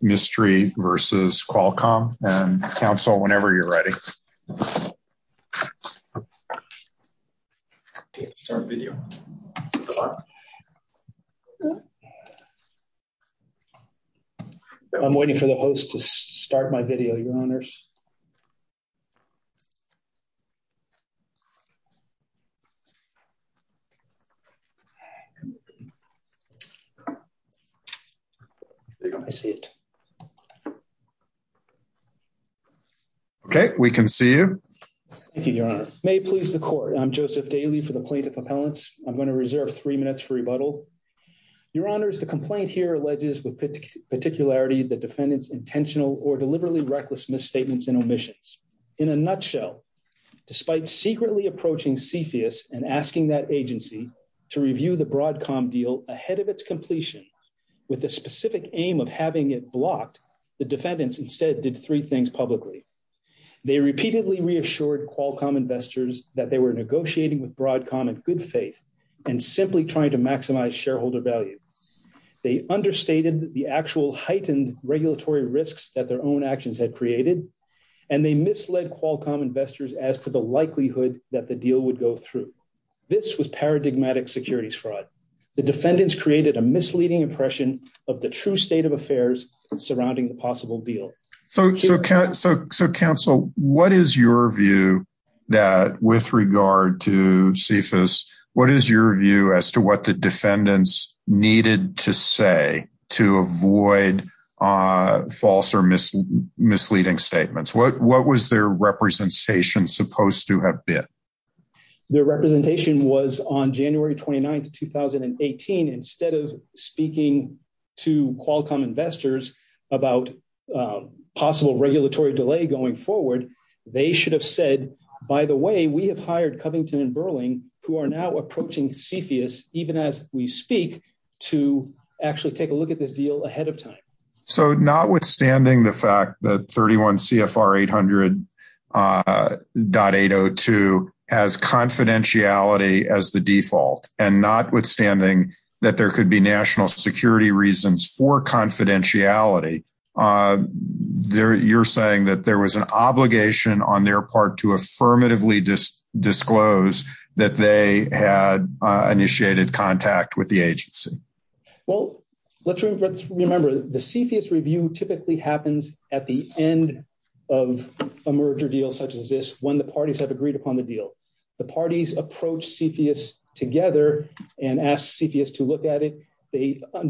Mistry versus Qualcomm and counsel whenever you're ready. I'm waiting for the host to start my video, your honors. Okay, we can see you. Thank you, your honor. May it please the court. I'm Joseph Daly for the plaintiff appellants. I'm going to reserve three minutes for rebuttal. Your honors, the complaint here alleges with particularity the defendant's intentional or deliberately reckless misstatements and omissions. In a nutshell, despite secretly approaching CFIUS and asking that agency to review the Broadcom deal ahead of its completion with a specific aim of having it blocked, the defendants instead did three things publicly. They repeatedly reassured Qualcomm investors that they were negotiating with Broadcom in good faith and simply trying to maximize shareholder value. They understated the actual heightened regulatory risks that their own actions had created and they misled Qualcomm investors as to the likelihood that the deal would go through. This was paradigmatic securities fraud. The defendants created a misleading impression of the true state of affairs surrounding the possible deal. So counsel, what is your view that with regard to CFIUS, what is your view as to what the defendants needed to say to avoid false or misleading statements? What was their representation supposed to have been? Their representation was on January 29th, 2018. Instead of speaking to Qualcomm investors about possible regulatory delay going forward, they should have said, by the way, we have hired Covington and Burling, who are now approaching CFIUS, even as we speak, to actually take a look at this deal ahead of time. So notwithstanding the fact that 31 CFR 800.802 has confidentiality as the default, and notwithstanding that there could be national security reasons for confidentiality, you're saying that there was an obligation on their part to affirmatively disclose that they had initiated contact with the agency? Well, let's remember the CFIUS review typically happens at the end of a merger deal such as this, when the parties have agreed upon the deal. The parties approach CFIUS together and ask CFIUS to look at it. They concern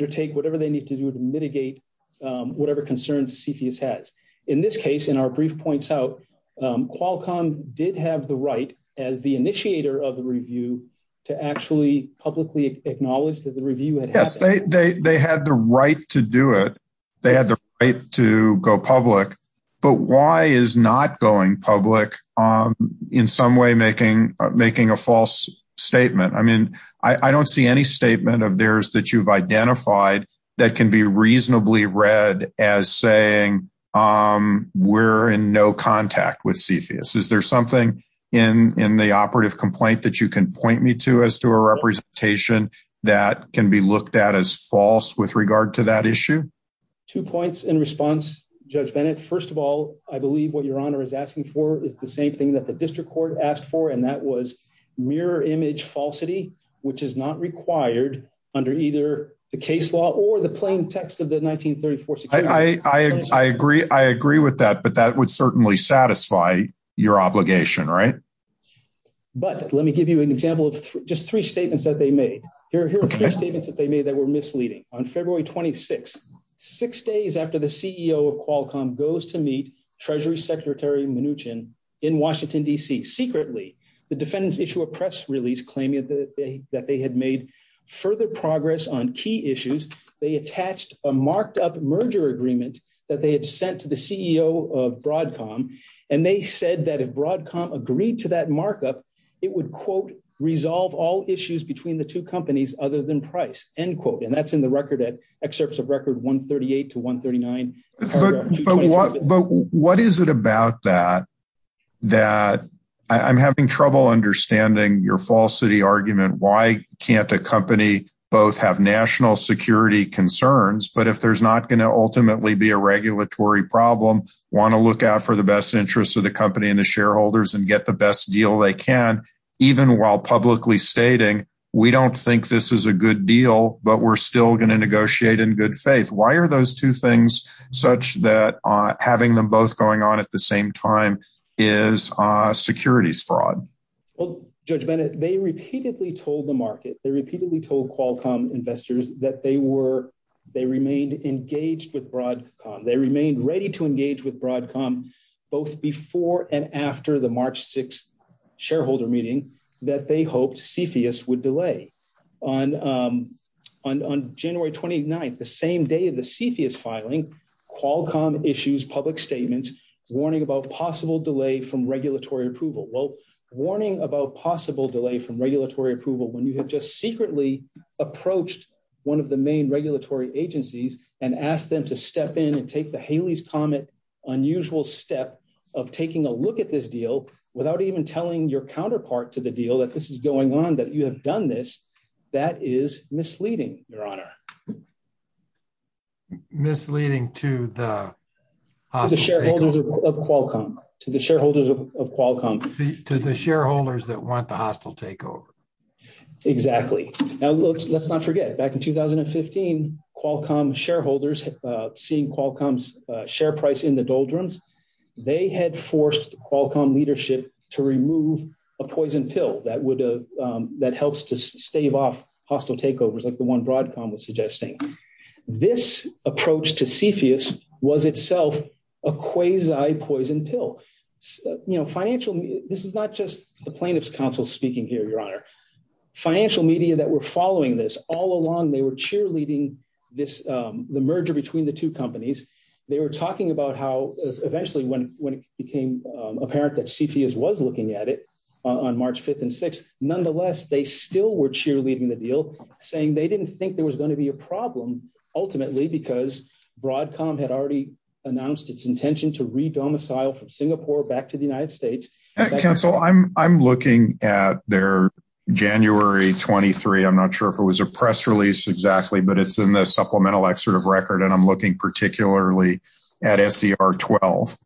CFIUS has. In this case, in our brief points out, Qualcomm did have the right, as the initiator of the review, to actually publicly acknowledge that the review had- Yes, they had the right to do it. They had the right to go public. But why is not going public in some way making a false statement? I mean, I don't see any statement of theirs that you've seen as saying we're in no contact with CFIUS. Is there something in the operative complaint that you can point me to as to a representation that can be looked at as false with regard to that issue? Two points in response, Judge Bennett. First of all, I believe what your honor is asking for is the same thing that the district court asked for, and that was mirror image falsity, which is not required under either the case law or the plain text of the 1934 security legislation. I agree with that, but that would certainly satisfy your obligation, right? But let me give you an example of just three statements that they made. Here are three statements that they made that were misleading. On February 26th, six days after the CEO of Qualcomm goes to meet Treasury Secretary Mnuchin in Washington, D.C. secretly, the defendants issue a press release claiming that they had made further progress on key issues. They attached a marked up merger agreement that they had sent to the CEO of Broadcom, and they said that if Broadcom agreed to that markup, it would, quote, resolve all issues between the two companies other than price, end quote. And that's in the record at excerpts of record 138 to 139. But what is it about that, that I'm having trouble understanding your falsity argument, why can't a company both have national security concerns, but if there's not going to ultimately be a regulatory problem, want to look out for the best interests of the company and the shareholders and get the best deal they can, even while publicly stating, we don't think this is a good deal, but we're still going to negotiate in good faith. Why are those two things such that having them both going on at the same time is securities fraud? Well, Judge Bennett, they repeatedly told the market, they repeatedly told Qualcomm investors that they remained engaged with Broadcom. They remained ready to engage with Broadcom, both before and after the March 6th shareholder meeting that they hoped CFIUS would delay. On January 29th, the same day of the CFIUS filing, Qualcomm issues public statements warning about possible delay from regulatory approval. Well, warning about possible delay from regulatory approval when you have just secretly approached one of the main regulatory agencies and asked them to step in and take the Haley's Comet unusual step of taking a look at this deal without even telling your counterpart to the deal that this is going on, that you have done this, that is misleading, Your Honor. Misleading to the shareholders of Qualcomm, to the shareholders of Qualcomm, to the shareholders that want the hostile takeover. Exactly. Now, let's not forget, back in 2015, Qualcomm shareholders seeing Qualcomm's share price in the doldrums, they had forced Qualcomm leadership to remove a poison pill that would have, that helps to stave off hostile takeovers like the one Broadcom was suggesting. This approach to CFIUS was itself a quasi-poison pill. You know, financial, this is not just the plaintiff's counsel speaking here, Your Honor. Financial media that were following this all along, they were cheerleading this, the merger between the two companies. They were talking about how eventually when it became apparent that CFIUS was looking at it on March 5th and 6th, nonetheless, they still were cheerleading the deal saying they didn't think there was going to be a problem ultimately because Broadcom had already announced its intention to re-domicile from Singapore back to the United States. Counsel, I'm looking at their January 23, I'm not sure if it was a press release exactly, but it's in the supplemental excerpt of record and I'm looking particularly at SER 12.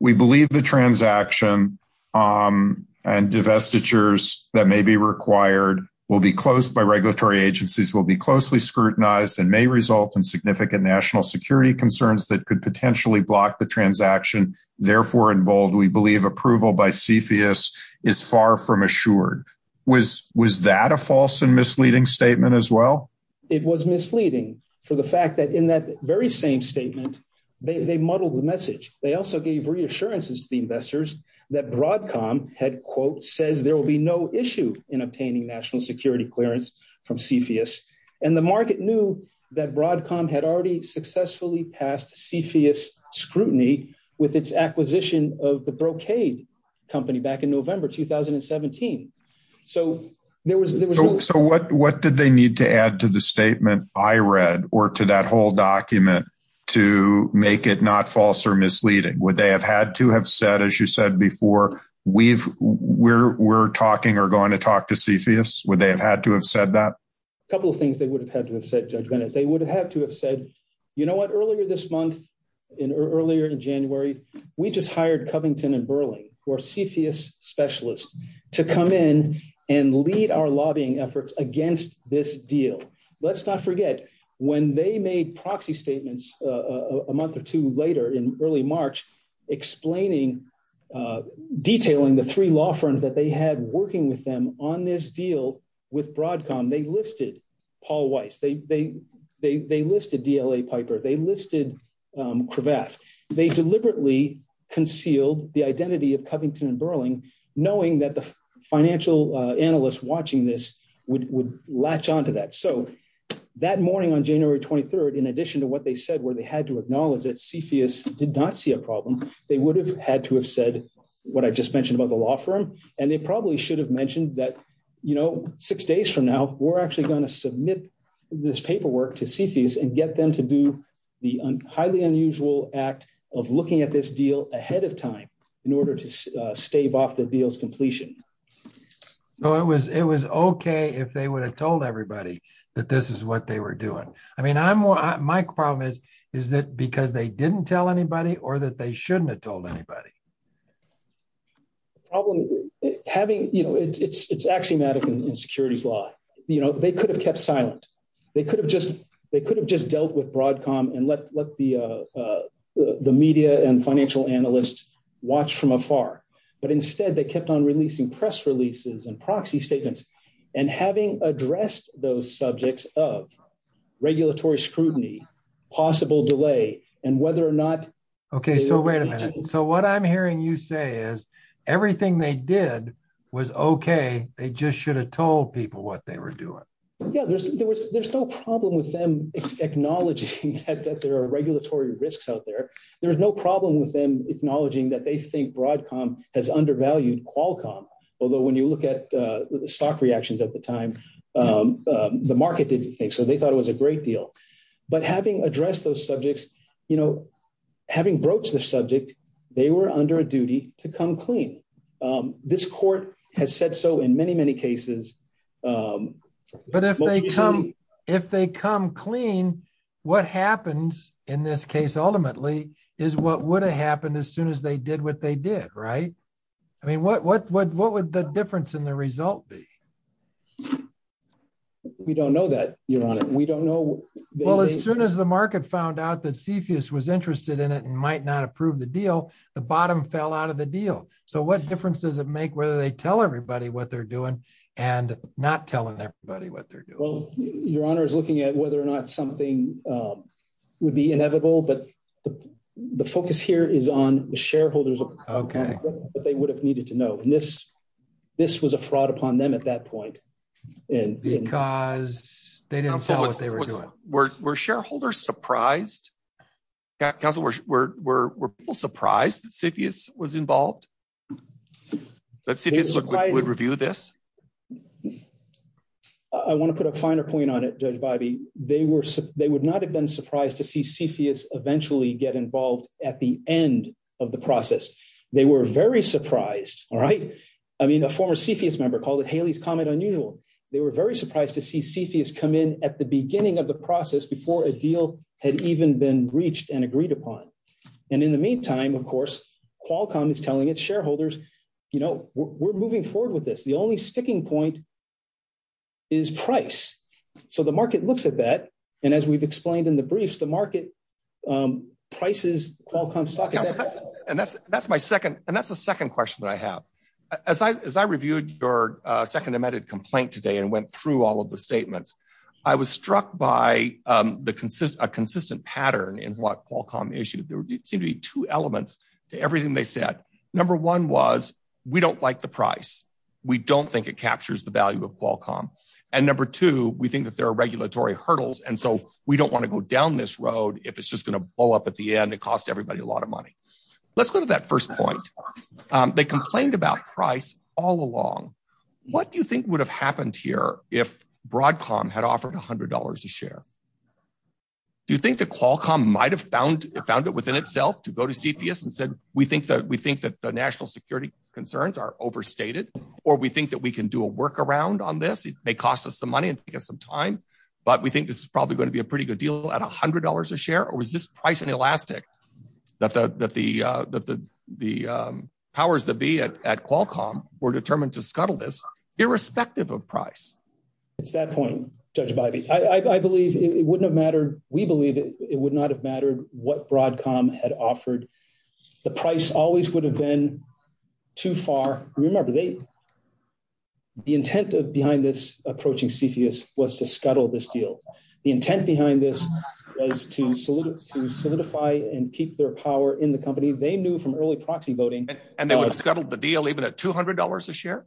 We believe the transaction and investitures that may be required will be closed by regulatory agencies, will be closely scrutinized and may result in significant national security concerns that could potentially block the transaction. Therefore, in bold, we believe approval by CFIUS is far from assured. Was that a false and misleading statement as well? It was misleading for the fact that in that very same statement, they muddled the message. They also gave reassurances to the investors that Broadcom had, quote, says there will be no issue in obtaining national security clearance from CFIUS and the market knew that Broadcom had already successfully passed CFIUS scrutiny with its acquisition of the Brocade company back in November 2017. So, what did they need to add to the statement I read or to that whole document to make it not false or misleading? Would they have had to have said, as you said before, we're talking or going to talk to CFIUS? Would they have had to have said that? A couple of things they would have had to have said, Judge Bennett. They would have had to have said, you know what, earlier this month, earlier in January, we just hired Covington and Burling, who are CFIUS specialists, to come in and lead our lobbying efforts against this deal. Let's not forget, when they made proxy statements a month or two later in early March, explaining, detailing the three law firms that they had working with them on this deal with Broadcom, they listed Paul Weiss. They listed DLA Piper. They listed Cravath. They deliberately concealed the identity of Covington and Burling, knowing that the financial analysts watching this would latch onto that. So, that morning on January 23rd, in addition to what they said, where they had to acknowledge that CFIUS did not see a problem, they would have had to have said what I just mentioned about the law firm. And they probably should have mentioned that, you know, six days from now, we're actually going to submit this paperwork to CFIUS and get them to do the highly unusual act of looking at this deal ahead of time in order to stave off the deal's completion. So, it was okay if they would have told everybody that this is what they were doing. I mean, my problem is, is it because they didn't tell anybody or that they shouldn't have told anybody? The problem having, you know, it's axiomatic in securities law. You know, they could have kept silent. They could have just dealt with Broadcom and let the the media and financial analysts watch from afar. But instead, they kept on releasing press releases and proxy statements. And having addressed those subjects of regulatory scrutiny, possible delay, and whether or not... Okay, so wait a minute. So, what I'm hearing you say is everything they did was okay. They just should have told people what they were doing. Yeah, there's no problem with them acknowledging that there are regulatory risks out there. There's no problem with them acknowledging that they think Broadcom has undervalued Qualcomm, although when you look at the stock reactions at the time, the market didn't think so. They thought it was a great deal. But having addressed those subjects, you know, having broached the subject, they were under a duty to come clean. This court has said so in many, many cases. But if they come clean, what happens in this case ultimately is what would have happened as they did what they did, right? I mean, what would the difference in the result be? We don't know that, Your Honor. We don't know. Well, as soon as the market found out that CFIUS was interested in it and might not approve the deal, the bottom fell out of the deal. So, what difference does it make whether they tell everybody what they're doing and not telling everybody what they're doing? Well, Your Honor is looking at whether or not something would be inevitable. But the focus here is on the shareholders. Okay. But they would have needed to know. And this was a fraud upon them at that point. Because they didn't follow what they were doing. Were shareholders surprised? Counsel, were people surprised that CFIUS was involved? That CFIUS would review this? I want to put a finer point on it, Judge Bidey. They would not have been surprised to see CFIUS eventually get involved at the end of the process. They were very surprised, all right? I mean, a former CFIUS member called it Haley's Comet unusual. They were very surprised to see CFIUS come in at the beginning of the process before a deal had even been reached and agreed upon. And in the meantime, of course, Qualcomm is telling its shareholders, we're moving forward with this. The only sticking point is price. So the market looks at that. And as we've explained in the briefs, the market prices Qualcomm's stock. And that's the second question that I have. As I reviewed your second amended complaint today and went through all of the statements, I was struck by a consistent pattern in what Qualcomm issued. There seemed to be two elements to everything they said. Number one was we don't like the price. We don't think it captures the value of Qualcomm. And number two, we think that there are regulatory hurdles. And so we don't want to go down this road if it's just going to blow up at the end. It costs everybody a lot of money. Let's go to that first point. They complained about price all along. What do you think would have happened here if Broadcom had offered $100 a share? Do you think that Qualcomm might have found it within itself to go to CPS and said, we think that the national security concerns are overstated, or we think that we can do a workaround on this? It may cost us some money and take us some time, but we think this is probably going to be a pretty good deal at $100 a share? Or is this price inelastic that the powers that be at Qualcomm were determined to scuttle this irrespective of price? It's that point, Judge Bybee. I believe it wouldn't have mattered. We believe it would not have mattered what Broadcom had offered. The price always would have been too far. Remember, the intent behind this approaching CFIUS was to scuttle this deal. The intent behind this was to solidify and keep their power in the company. They knew from early proxy voting- And they would have scuttled the deal even at $200 a share?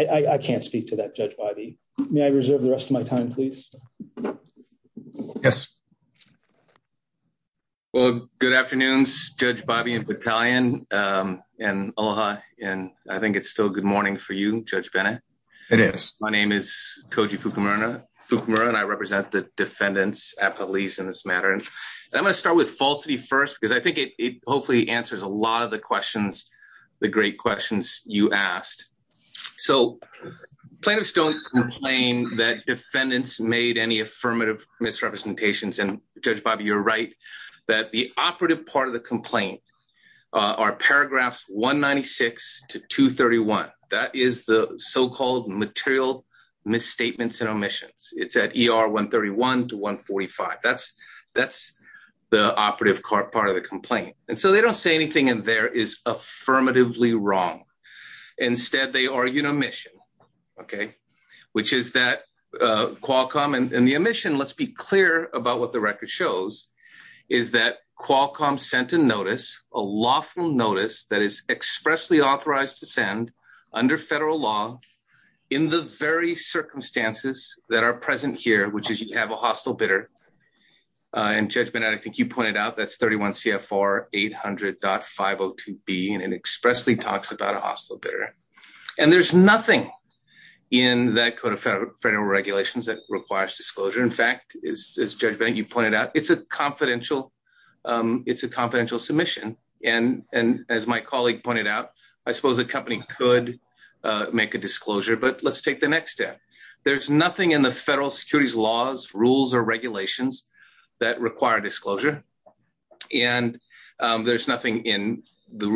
I can't speak to that, Judge Bybee. May I reserve the rest of my time, please? Yes. Well, good afternoons, Judge Bybee and Battalion, and aloha. I think it's still good morning for you, Judge Bennett. It is. My name is Koji Fukumura, and I represent the defendants at police in this matter. I'm going to start with falsity first, because I think it hopefully answers a lot of the great questions you asked. So plaintiffs don't complain that defendants made any affirmative misrepresentations. And Judge Bybee, you're right that the operative part of the complaint are paragraphs 196 to 231. That is the so-called material misstatements and omissions. It's at ER 131 to 145. That's the operative part of the complaint. And so they don't say anything in there is affirmatively wrong. Instead, they argue an omission, okay, which is that Qualcomm and the omission, let's be clear about what the record shows, is that Qualcomm sent a notice, a lawful notice that is expressly authorized to send under federal law in the very circumstances that are present here, which is you have a hostile bidder. And Judge Bennett, I think you pointed out, it's a confidential submission. And as my colleague pointed out, I suppose a company could make a disclosure, but let's take the next step. There's nothing in the federal securities laws, rules, or regulations that require disclosure. And there's nothing in the federal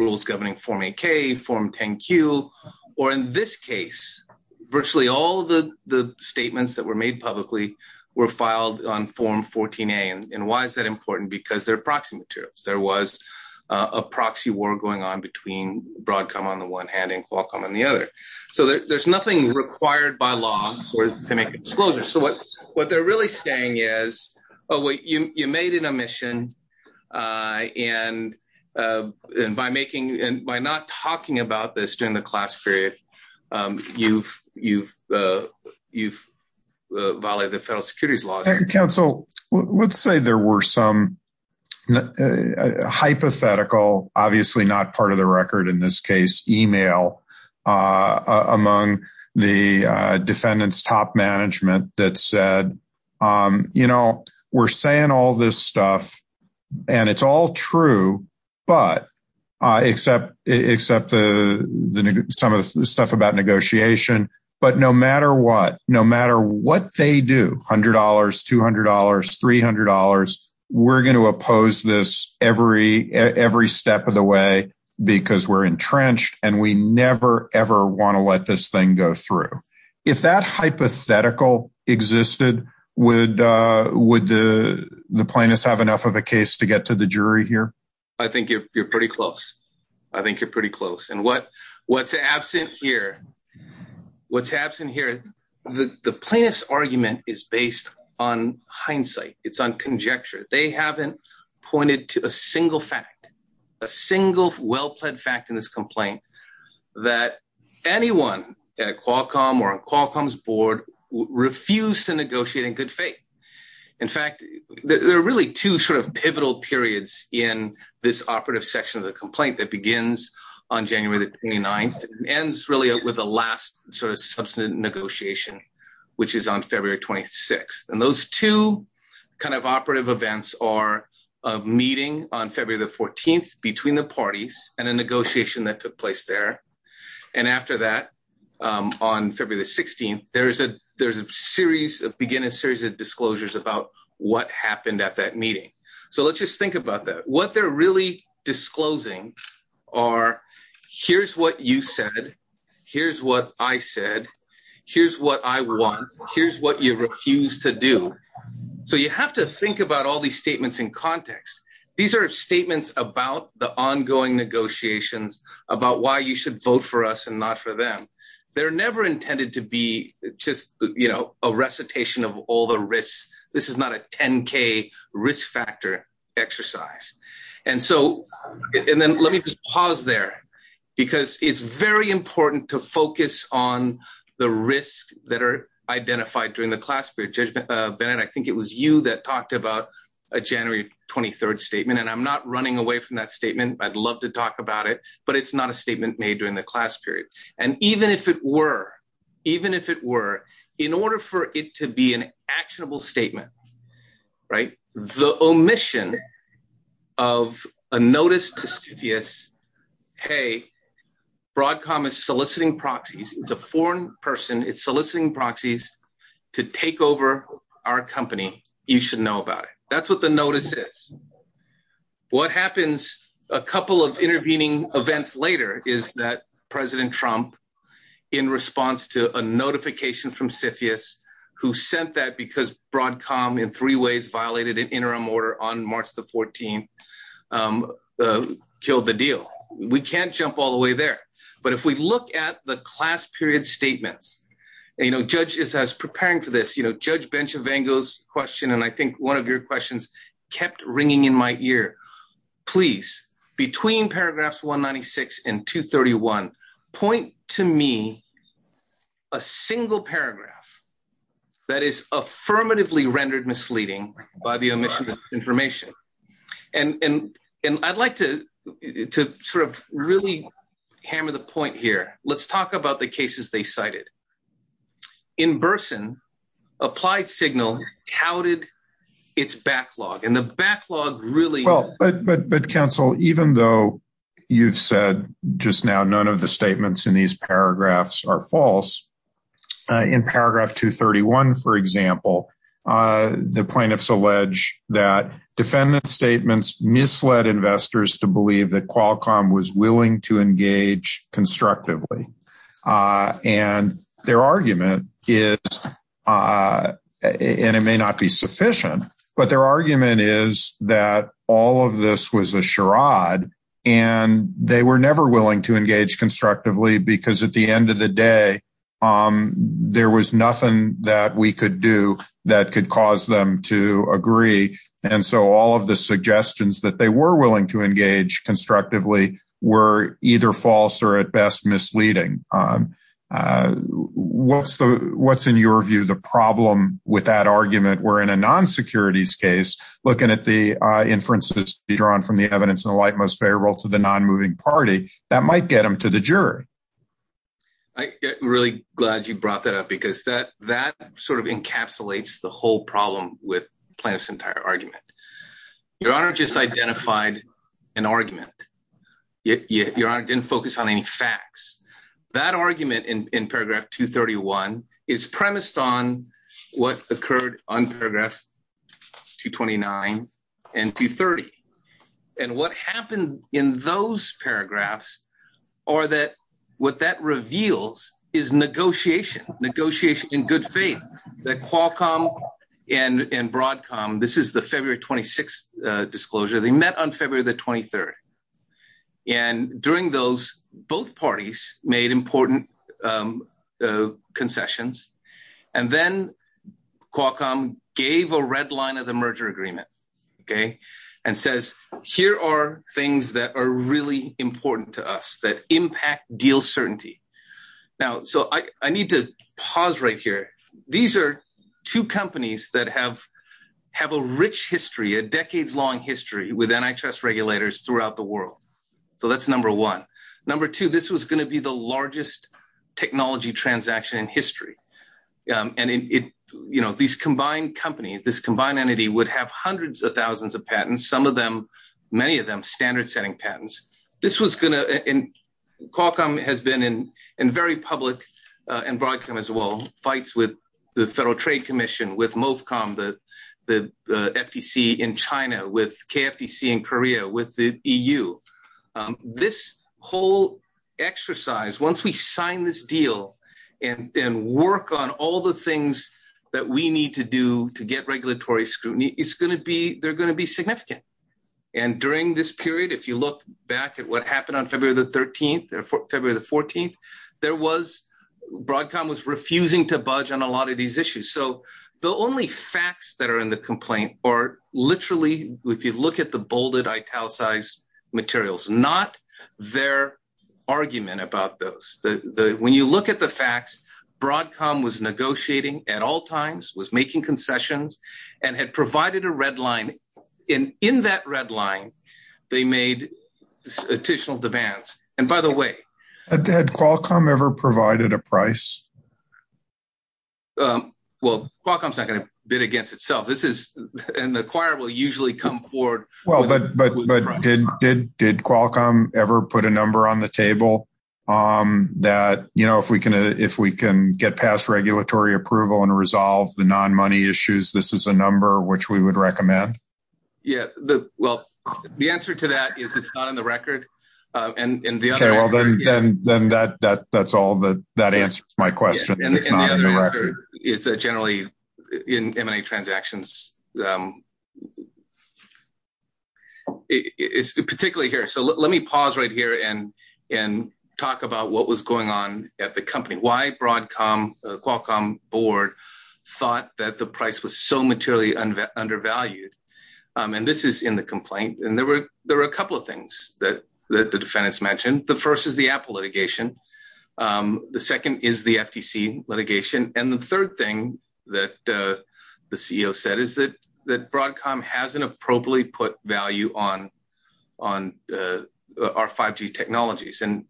rules governing Form 8K, Form 10Q, or in this case, virtually all the statements that were made publicly were filed on Form 14A. And why is that important? Because they're proxy materials. There was a proxy war going on between Broadcom on the one hand and Qualcomm on the other. So there's nothing required by law to make a disclosure. So what they're really saying is, oh, wait, you made an omission. And by making, and by not talking about this during the class period, you've violated the federal securities laws. And counsel, let's say there were some hypothetical, obviously not part of the record, in this case, email among the defendant's top management that said, you know, we're saying all this stuff. And it's all true, but except some of the stuff about negotiation, but no matter what, no matter what they do, $100, $200, $300, we're going to oppose this every step of the way, because we're entrenched and we never, ever want to let this thing go through. If that hypothetical existed, would the plaintiffs have enough of a case to get to the jury here? I think you're pretty close. I think you're pretty close. And what's absent here, what's absent here, the plaintiff's argument is based on hindsight. It's on conjecture. They haven't pointed to a single fact, a single well-plaid fact in this complaint that anyone at Qualcomm or Qualcomm's board refused to negotiate in good faith. In fact, there are really two sort of pivotal periods in this operative section of the complaint that begins on January the 29th and ends really with the last sort of substantive negotiation, which is on February 26th. And those two kind of operative events are a meeting on February the 14th between the parties and a negotiation that took place there. And after that, on February the 16th, there's a series, a beginning series of disclosures about what happened at that meeting. So let's just think about that. What they're really disclosing are here's what you said, here's what I said, here's what I want, here's what you refuse to do. So you have to think about all these statements in context. These are statements about the ongoing negotiations, about why you should vote for us and not for them. They're never intended to be just, you know, a recitation of all the risks. This is not a 10K risk factor exercise. And so, and then let me just pause there because it's very important to focus on the risks that are identified during the class period. Judge Bennett, I think it was you that talked about a January 23rd statement, and I'm not running away from that statement. I'd love to talk about it, but it's not a statement made during the class period. And even if it were, even if it were, in order for it to be an actionable statement, right? The omission of a notice to CBS, hey, Broadcom is soliciting proxies. It's a foreign person. It's soliciting proxies to take over our company. You should know about it. That's what the notice is. What happens a couple of intervening events later is that President Trump, in response to a notification from CFS who sent that because Broadcom in three ways violated an interim order on March the 14th killed the deal. We can't jump all the way there, but if we look at the class period statements, you know, judges as preparing for this, you know, judge bench of angles question. And I think one of your questions kept ringing in my ear, please, between paragraphs, 196 and 231 point to me a single paragraph that is affirmatively rendered misleading by the omission of information. And, and, and I'd like to, to sort of really hammer the point here. Let's talk about the cases they cited in Burson applied signals, how did its backlog and the these paragraphs are false in paragraph 231, for example, the plaintiffs allege that defendant statements misled investors to believe that Qualcomm was willing to engage constructively. And their argument is, and it may not be sufficient, but their argument is that all of was a charade and they were never willing to engage constructively because at the end of the day, there was nothing that we could do that could cause them to agree. And so all of the suggestions that they were willing to engage constructively were either false or at best misleading. What's the, what's in your view, the problem with that argument, where in a non-securities case, looking at the inferences drawn from the evidence in the light, most favorable to the non-moving party that might get them to the jury. I really glad you brought that up because that, that sort of encapsulates the whole problem with plaintiff's entire argument. Your honor just identified an argument. Your honor didn't focus on any facts that argument in paragraph 231 is premised on what occurred on paragraph 229 and 230. And what happened in those paragraphs are that what that reveals is negotiation, negotiation in good faith that Qualcomm and Broadcom, this is the February 26th disclosure they met on February the 23rd. And during those both parties made important concessions and then Qualcomm gave a red line of the merger agreement. Okay. And says, here are things that are really important to us that impact deal certainty. Now, so I, I need to pause right here. These are two companies that have, have a rich history, a decades long history with NHS regulators throughout the world. So that's number one. Number two, this was going to be the largest technology transaction in history. And it, you know, these combined companies, this combined entity would have hundreds of thousands of patents. Some of them, many of them standard setting patents. This was going to, and Qualcomm has been in, in very public and Broadcom as well, fights with the federal trade commission, with MOFCOM, the, the FTC in China, with KFTC in Korea, with the EU. This whole exercise, once we sign this deal and work on all the things that we need to do to get regulatory scrutiny, it's going to be, they're going to be significant. And during this period, if you look back at what happened on February the 13th, February the 14th, there was Broadcom was refusing to budge on a lot of these issues. So the only facts that are in the complaint are literally, if you look at the bolded italicized materials, not their argument about those, the, the, when you look at the facts, Broadcom was negotiating at all times, was making concessions and had provided a red line in, in that red line, they made additional demands. And by the way. Had Qualcomm ever provided a price? Well, Qualcomm's not going to bid against itself. This is, and the acquirer will usually come forward. Well, but, but, but did, did, did Qualcomm ever put a number on the table that, you know, if we can, if we can get past regulatory approval and resolve the non-money issues, this is a number which we would recommend. Yeah, the, well, the answer to that is it's not on the record. And the other answer is. Okay, well then, then that, that, that's all the, that answers my question. It's not on the record. And the other answer is that generally in M&A transactions, it's particularly here. So let me pause right here and, and talk about what was going on at the company. Why Broadcom, Qualcomm board thought that the price was so materially undervalued. And this is in the complaint. And there were, there were a couple of things that, that the defendants mentioned. The first is the Apple litigation. The second is the FTC litigation. And the third thing that the CEO said is that, that Broadcom hasn't appropriately put value on, on our 5G technologies. And,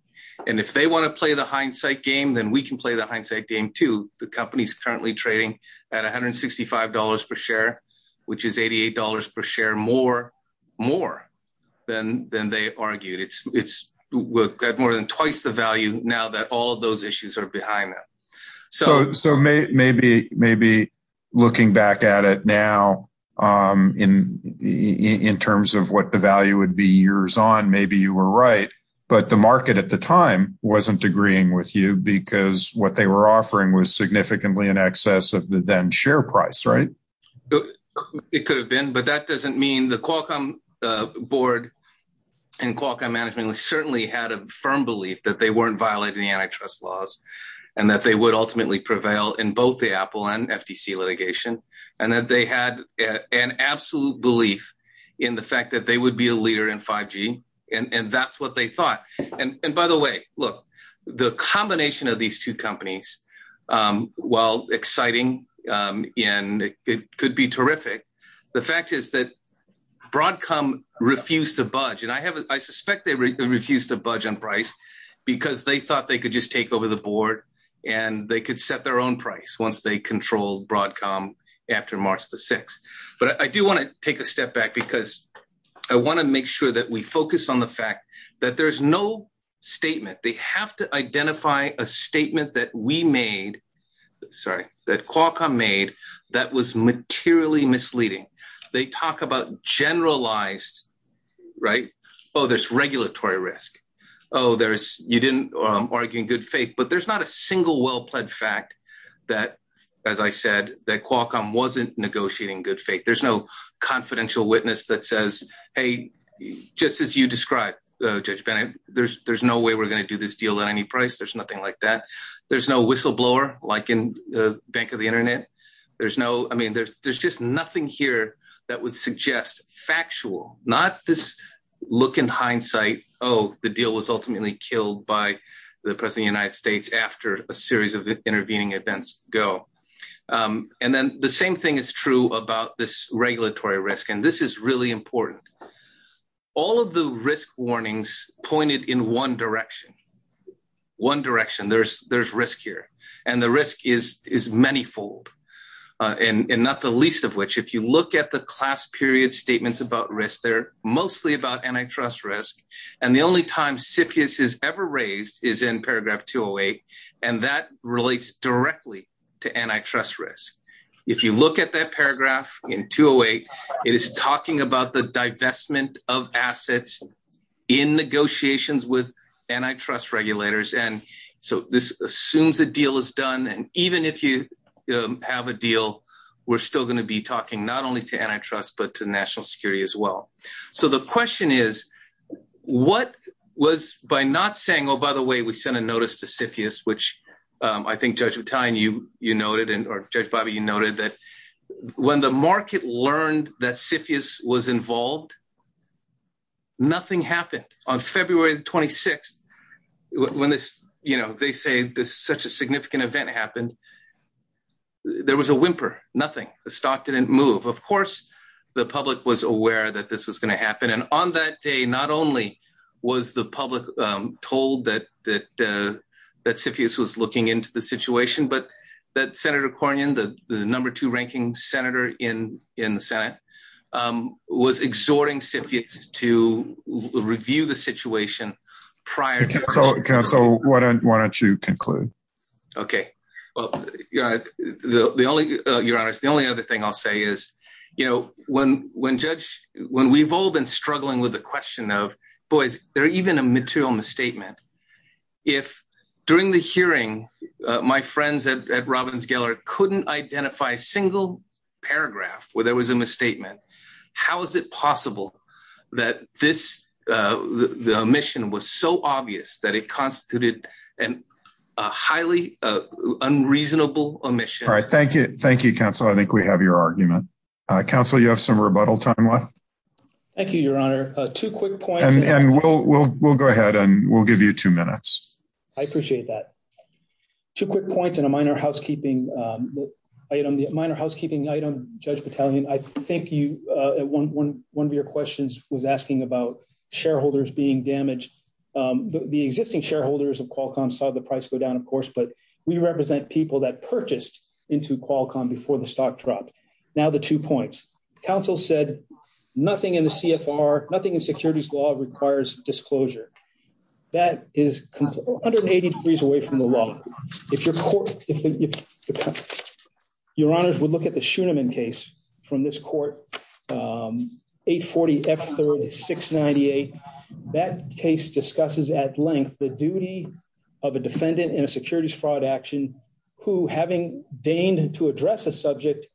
and if they want to play the hindsight game, then we can play the hindsight game too. The company's currently trading at $165 per share, which is $88 per share, more, more than, than they argued it's, it's got more than twice the value now that all of those issues are behind them. So, so maybe, maybe looking back at it now in, in terms of what the value would be years on, maybe you were right, but the market at the time wasn't agreeing with because what they were offering was significantly in excess of the then share price, right? It could have been, but that doesn't mean the Qualcomm board and Qualcomm management certainly had a firm belief that they weren't violating the antitrust laws and that they would ultimately prevail in both the Apple and FTC litigation. And that they had an absolute belief in the fact that they would be a leader in 5G. And that's what they thought. And by the way, look, the combination of these two companies, while exciting and it could be terrific, the fact is that Broadcom refused to budge. And I have, I suspect they refused to budge on price because they thought they could just take over the board and they could set their own price once they control Broadcom after March the 6th. But I do want to take a step back because I want to make sure that we focus on the fact that there's no statement. They have to identify a statement that we made, sorry, that Qualcomm made that was materially misleading. They talk about generalized, right? Oh, there's regulatory risk. Oh, there's, you didn't argue in good faith, but there's not a single well-pled fact that, as I said, that Qualcomm wasn't negotiating good faith. There's no confidential witness that says, hey, just as you described, Judge Bennett, there's no way we're going to do this deal at any price. There's nothing like that. There's no whistleblower like in the bank of the internet. There's no, I mean, there's just nothing here that would suggest factual, not this look in hindsight, oh, the deal was ultimately killed by the president of the United States after a series of intervening events go. And then the same thing is true about this regulatory risk. And this is really important. All of the risk warnings pointed in one direction, one direction, there's risk here. And the risk is many fold and not the least of which, if you look at the class period statements about risk, they're mostly about antitrust risk. And the only time CFIUS is ever raised is in antitrust risk. If you look at that paragraph in 208, it is talking about the divestment of assets in negotiations with antitrust regulators. And so this assumes a deal is done. And even if you have a deal, we're still going to be talking not only to antitrust, but to national security as well. So the question is, what was by not saying, oh, by the way, we sent a notice to CFIUS, which I think Judge Battaglia, you noted, or Judge Bobby, you noted that when the market learned that CFIUS was involved, nothing happened. On February 26th, when they say this such a significant event happened, there was a whimper, nothing, the stock didn't move. Of course, the public was aware that this was going to happen. And on that day, not only was the public told that CFIUS was looking into the situation, but that Senator Cornyn, the number two ranking senator in the Senate, was exhorting CFIUS to review the situation prior. Counsel, why don't you conclude? Okay. Well, Your Honor, the only other thing I'll say is, you know, when we've all been struggling with the question of, boys, there are even a material misstatement. If during the hearing, my friends at Robbins Geller couldn't identify a single paragraph where there was a misstatement, how is it possible that this, the omission was so obvious that it constituted a highly unreasonable omission? All right. Thank you. Thank you, counsel. I think we have your argument. Counsel, you have some rebuttal time left. Thank you, Your Honor. Two quick points. And we'll go ahead and we'll give you two minutes. I appreciate that. Two quick points and a minor housekeeping item. The minor housekeeping item, Judge Battalion, I think one of your questions was asking about shareholders being damaged. The existing shareholders of Qualcomm saw the price go down, of course, but we represent people that purchased into Qualcomm before the stock dropped. Now, the two points. Counsel said, nothing in the CFR, nothing in securities law requires disclosure. That is 180 degrees away from the law. If Your Honor would look at the Schoonerman case from this court, 840 F 3698, that case discusses at length the duty of a defendant in a securities fraud action, who having deigned to address a subject,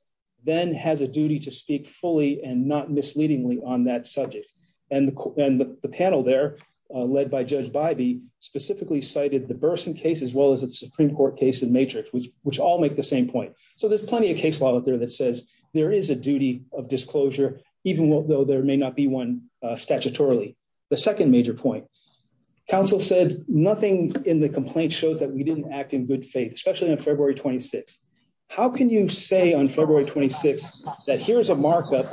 then has a duty to speak fully and not misleadingly on that subject. And the panel there led by Judge Bybee specifically cited the Burson case, as well as the Supreme Court case in Matrix, which all make the same point. So there's plenty of case law out there that says there is a duty of disclosure, even though there may not be one statutorily. The second major point. Counsel said, nothing in the complaint shows that we didn't act in good faith, especially on February 26th. How can you say on February 26th that here's a markup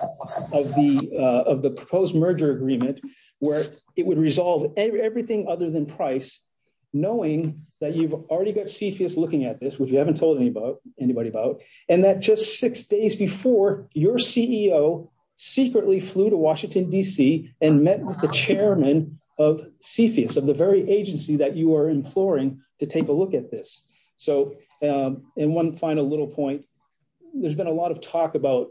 of the proposed merger agreement, where it would resolve everything other than price, knowing that you've already got CFIUS looking at this, which you haven't told anybody about, and that just six days before your CEO secretly flew to Washington, D.C. and met with the chairman of CFIUS, of the very agency that you are imploring to take a look at this. So in one final little point, there's been a lot of talk about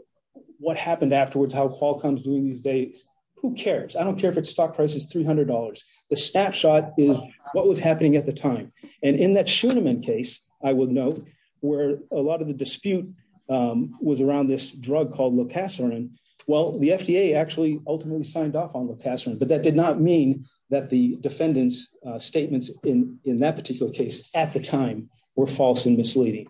what happened afterwards, how Qualcomm's doing these days. Who cares? I don't care if its stock price is $300. The snapshot is what was happening at the time. And in that Schuenemann case, I would note, where a lot of the dispute was around this drug called locasorin. Well, the FDA actually ultimately signed off on locasorin. But that did not mean that the defendant's statements in that particular case at the time were false and misleading.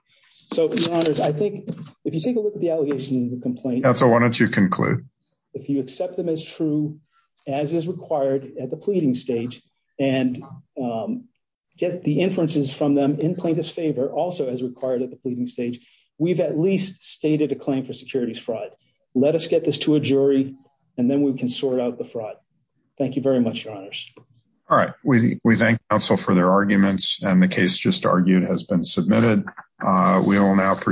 So, your honors, I think if you take a look at the allegations of the complaint. Counsel, why don't you conclude? If you accept them as true, as is required at the pleading stage, and get the inferences from them also as required at the pleading stage, we've at least stated a claim for securities fraud. Let us get this to a jury and then we can sort out the fraud. Thank you very much, your honors. All right. We thank counsel for their arguments and the case just argued has been submitted. We will now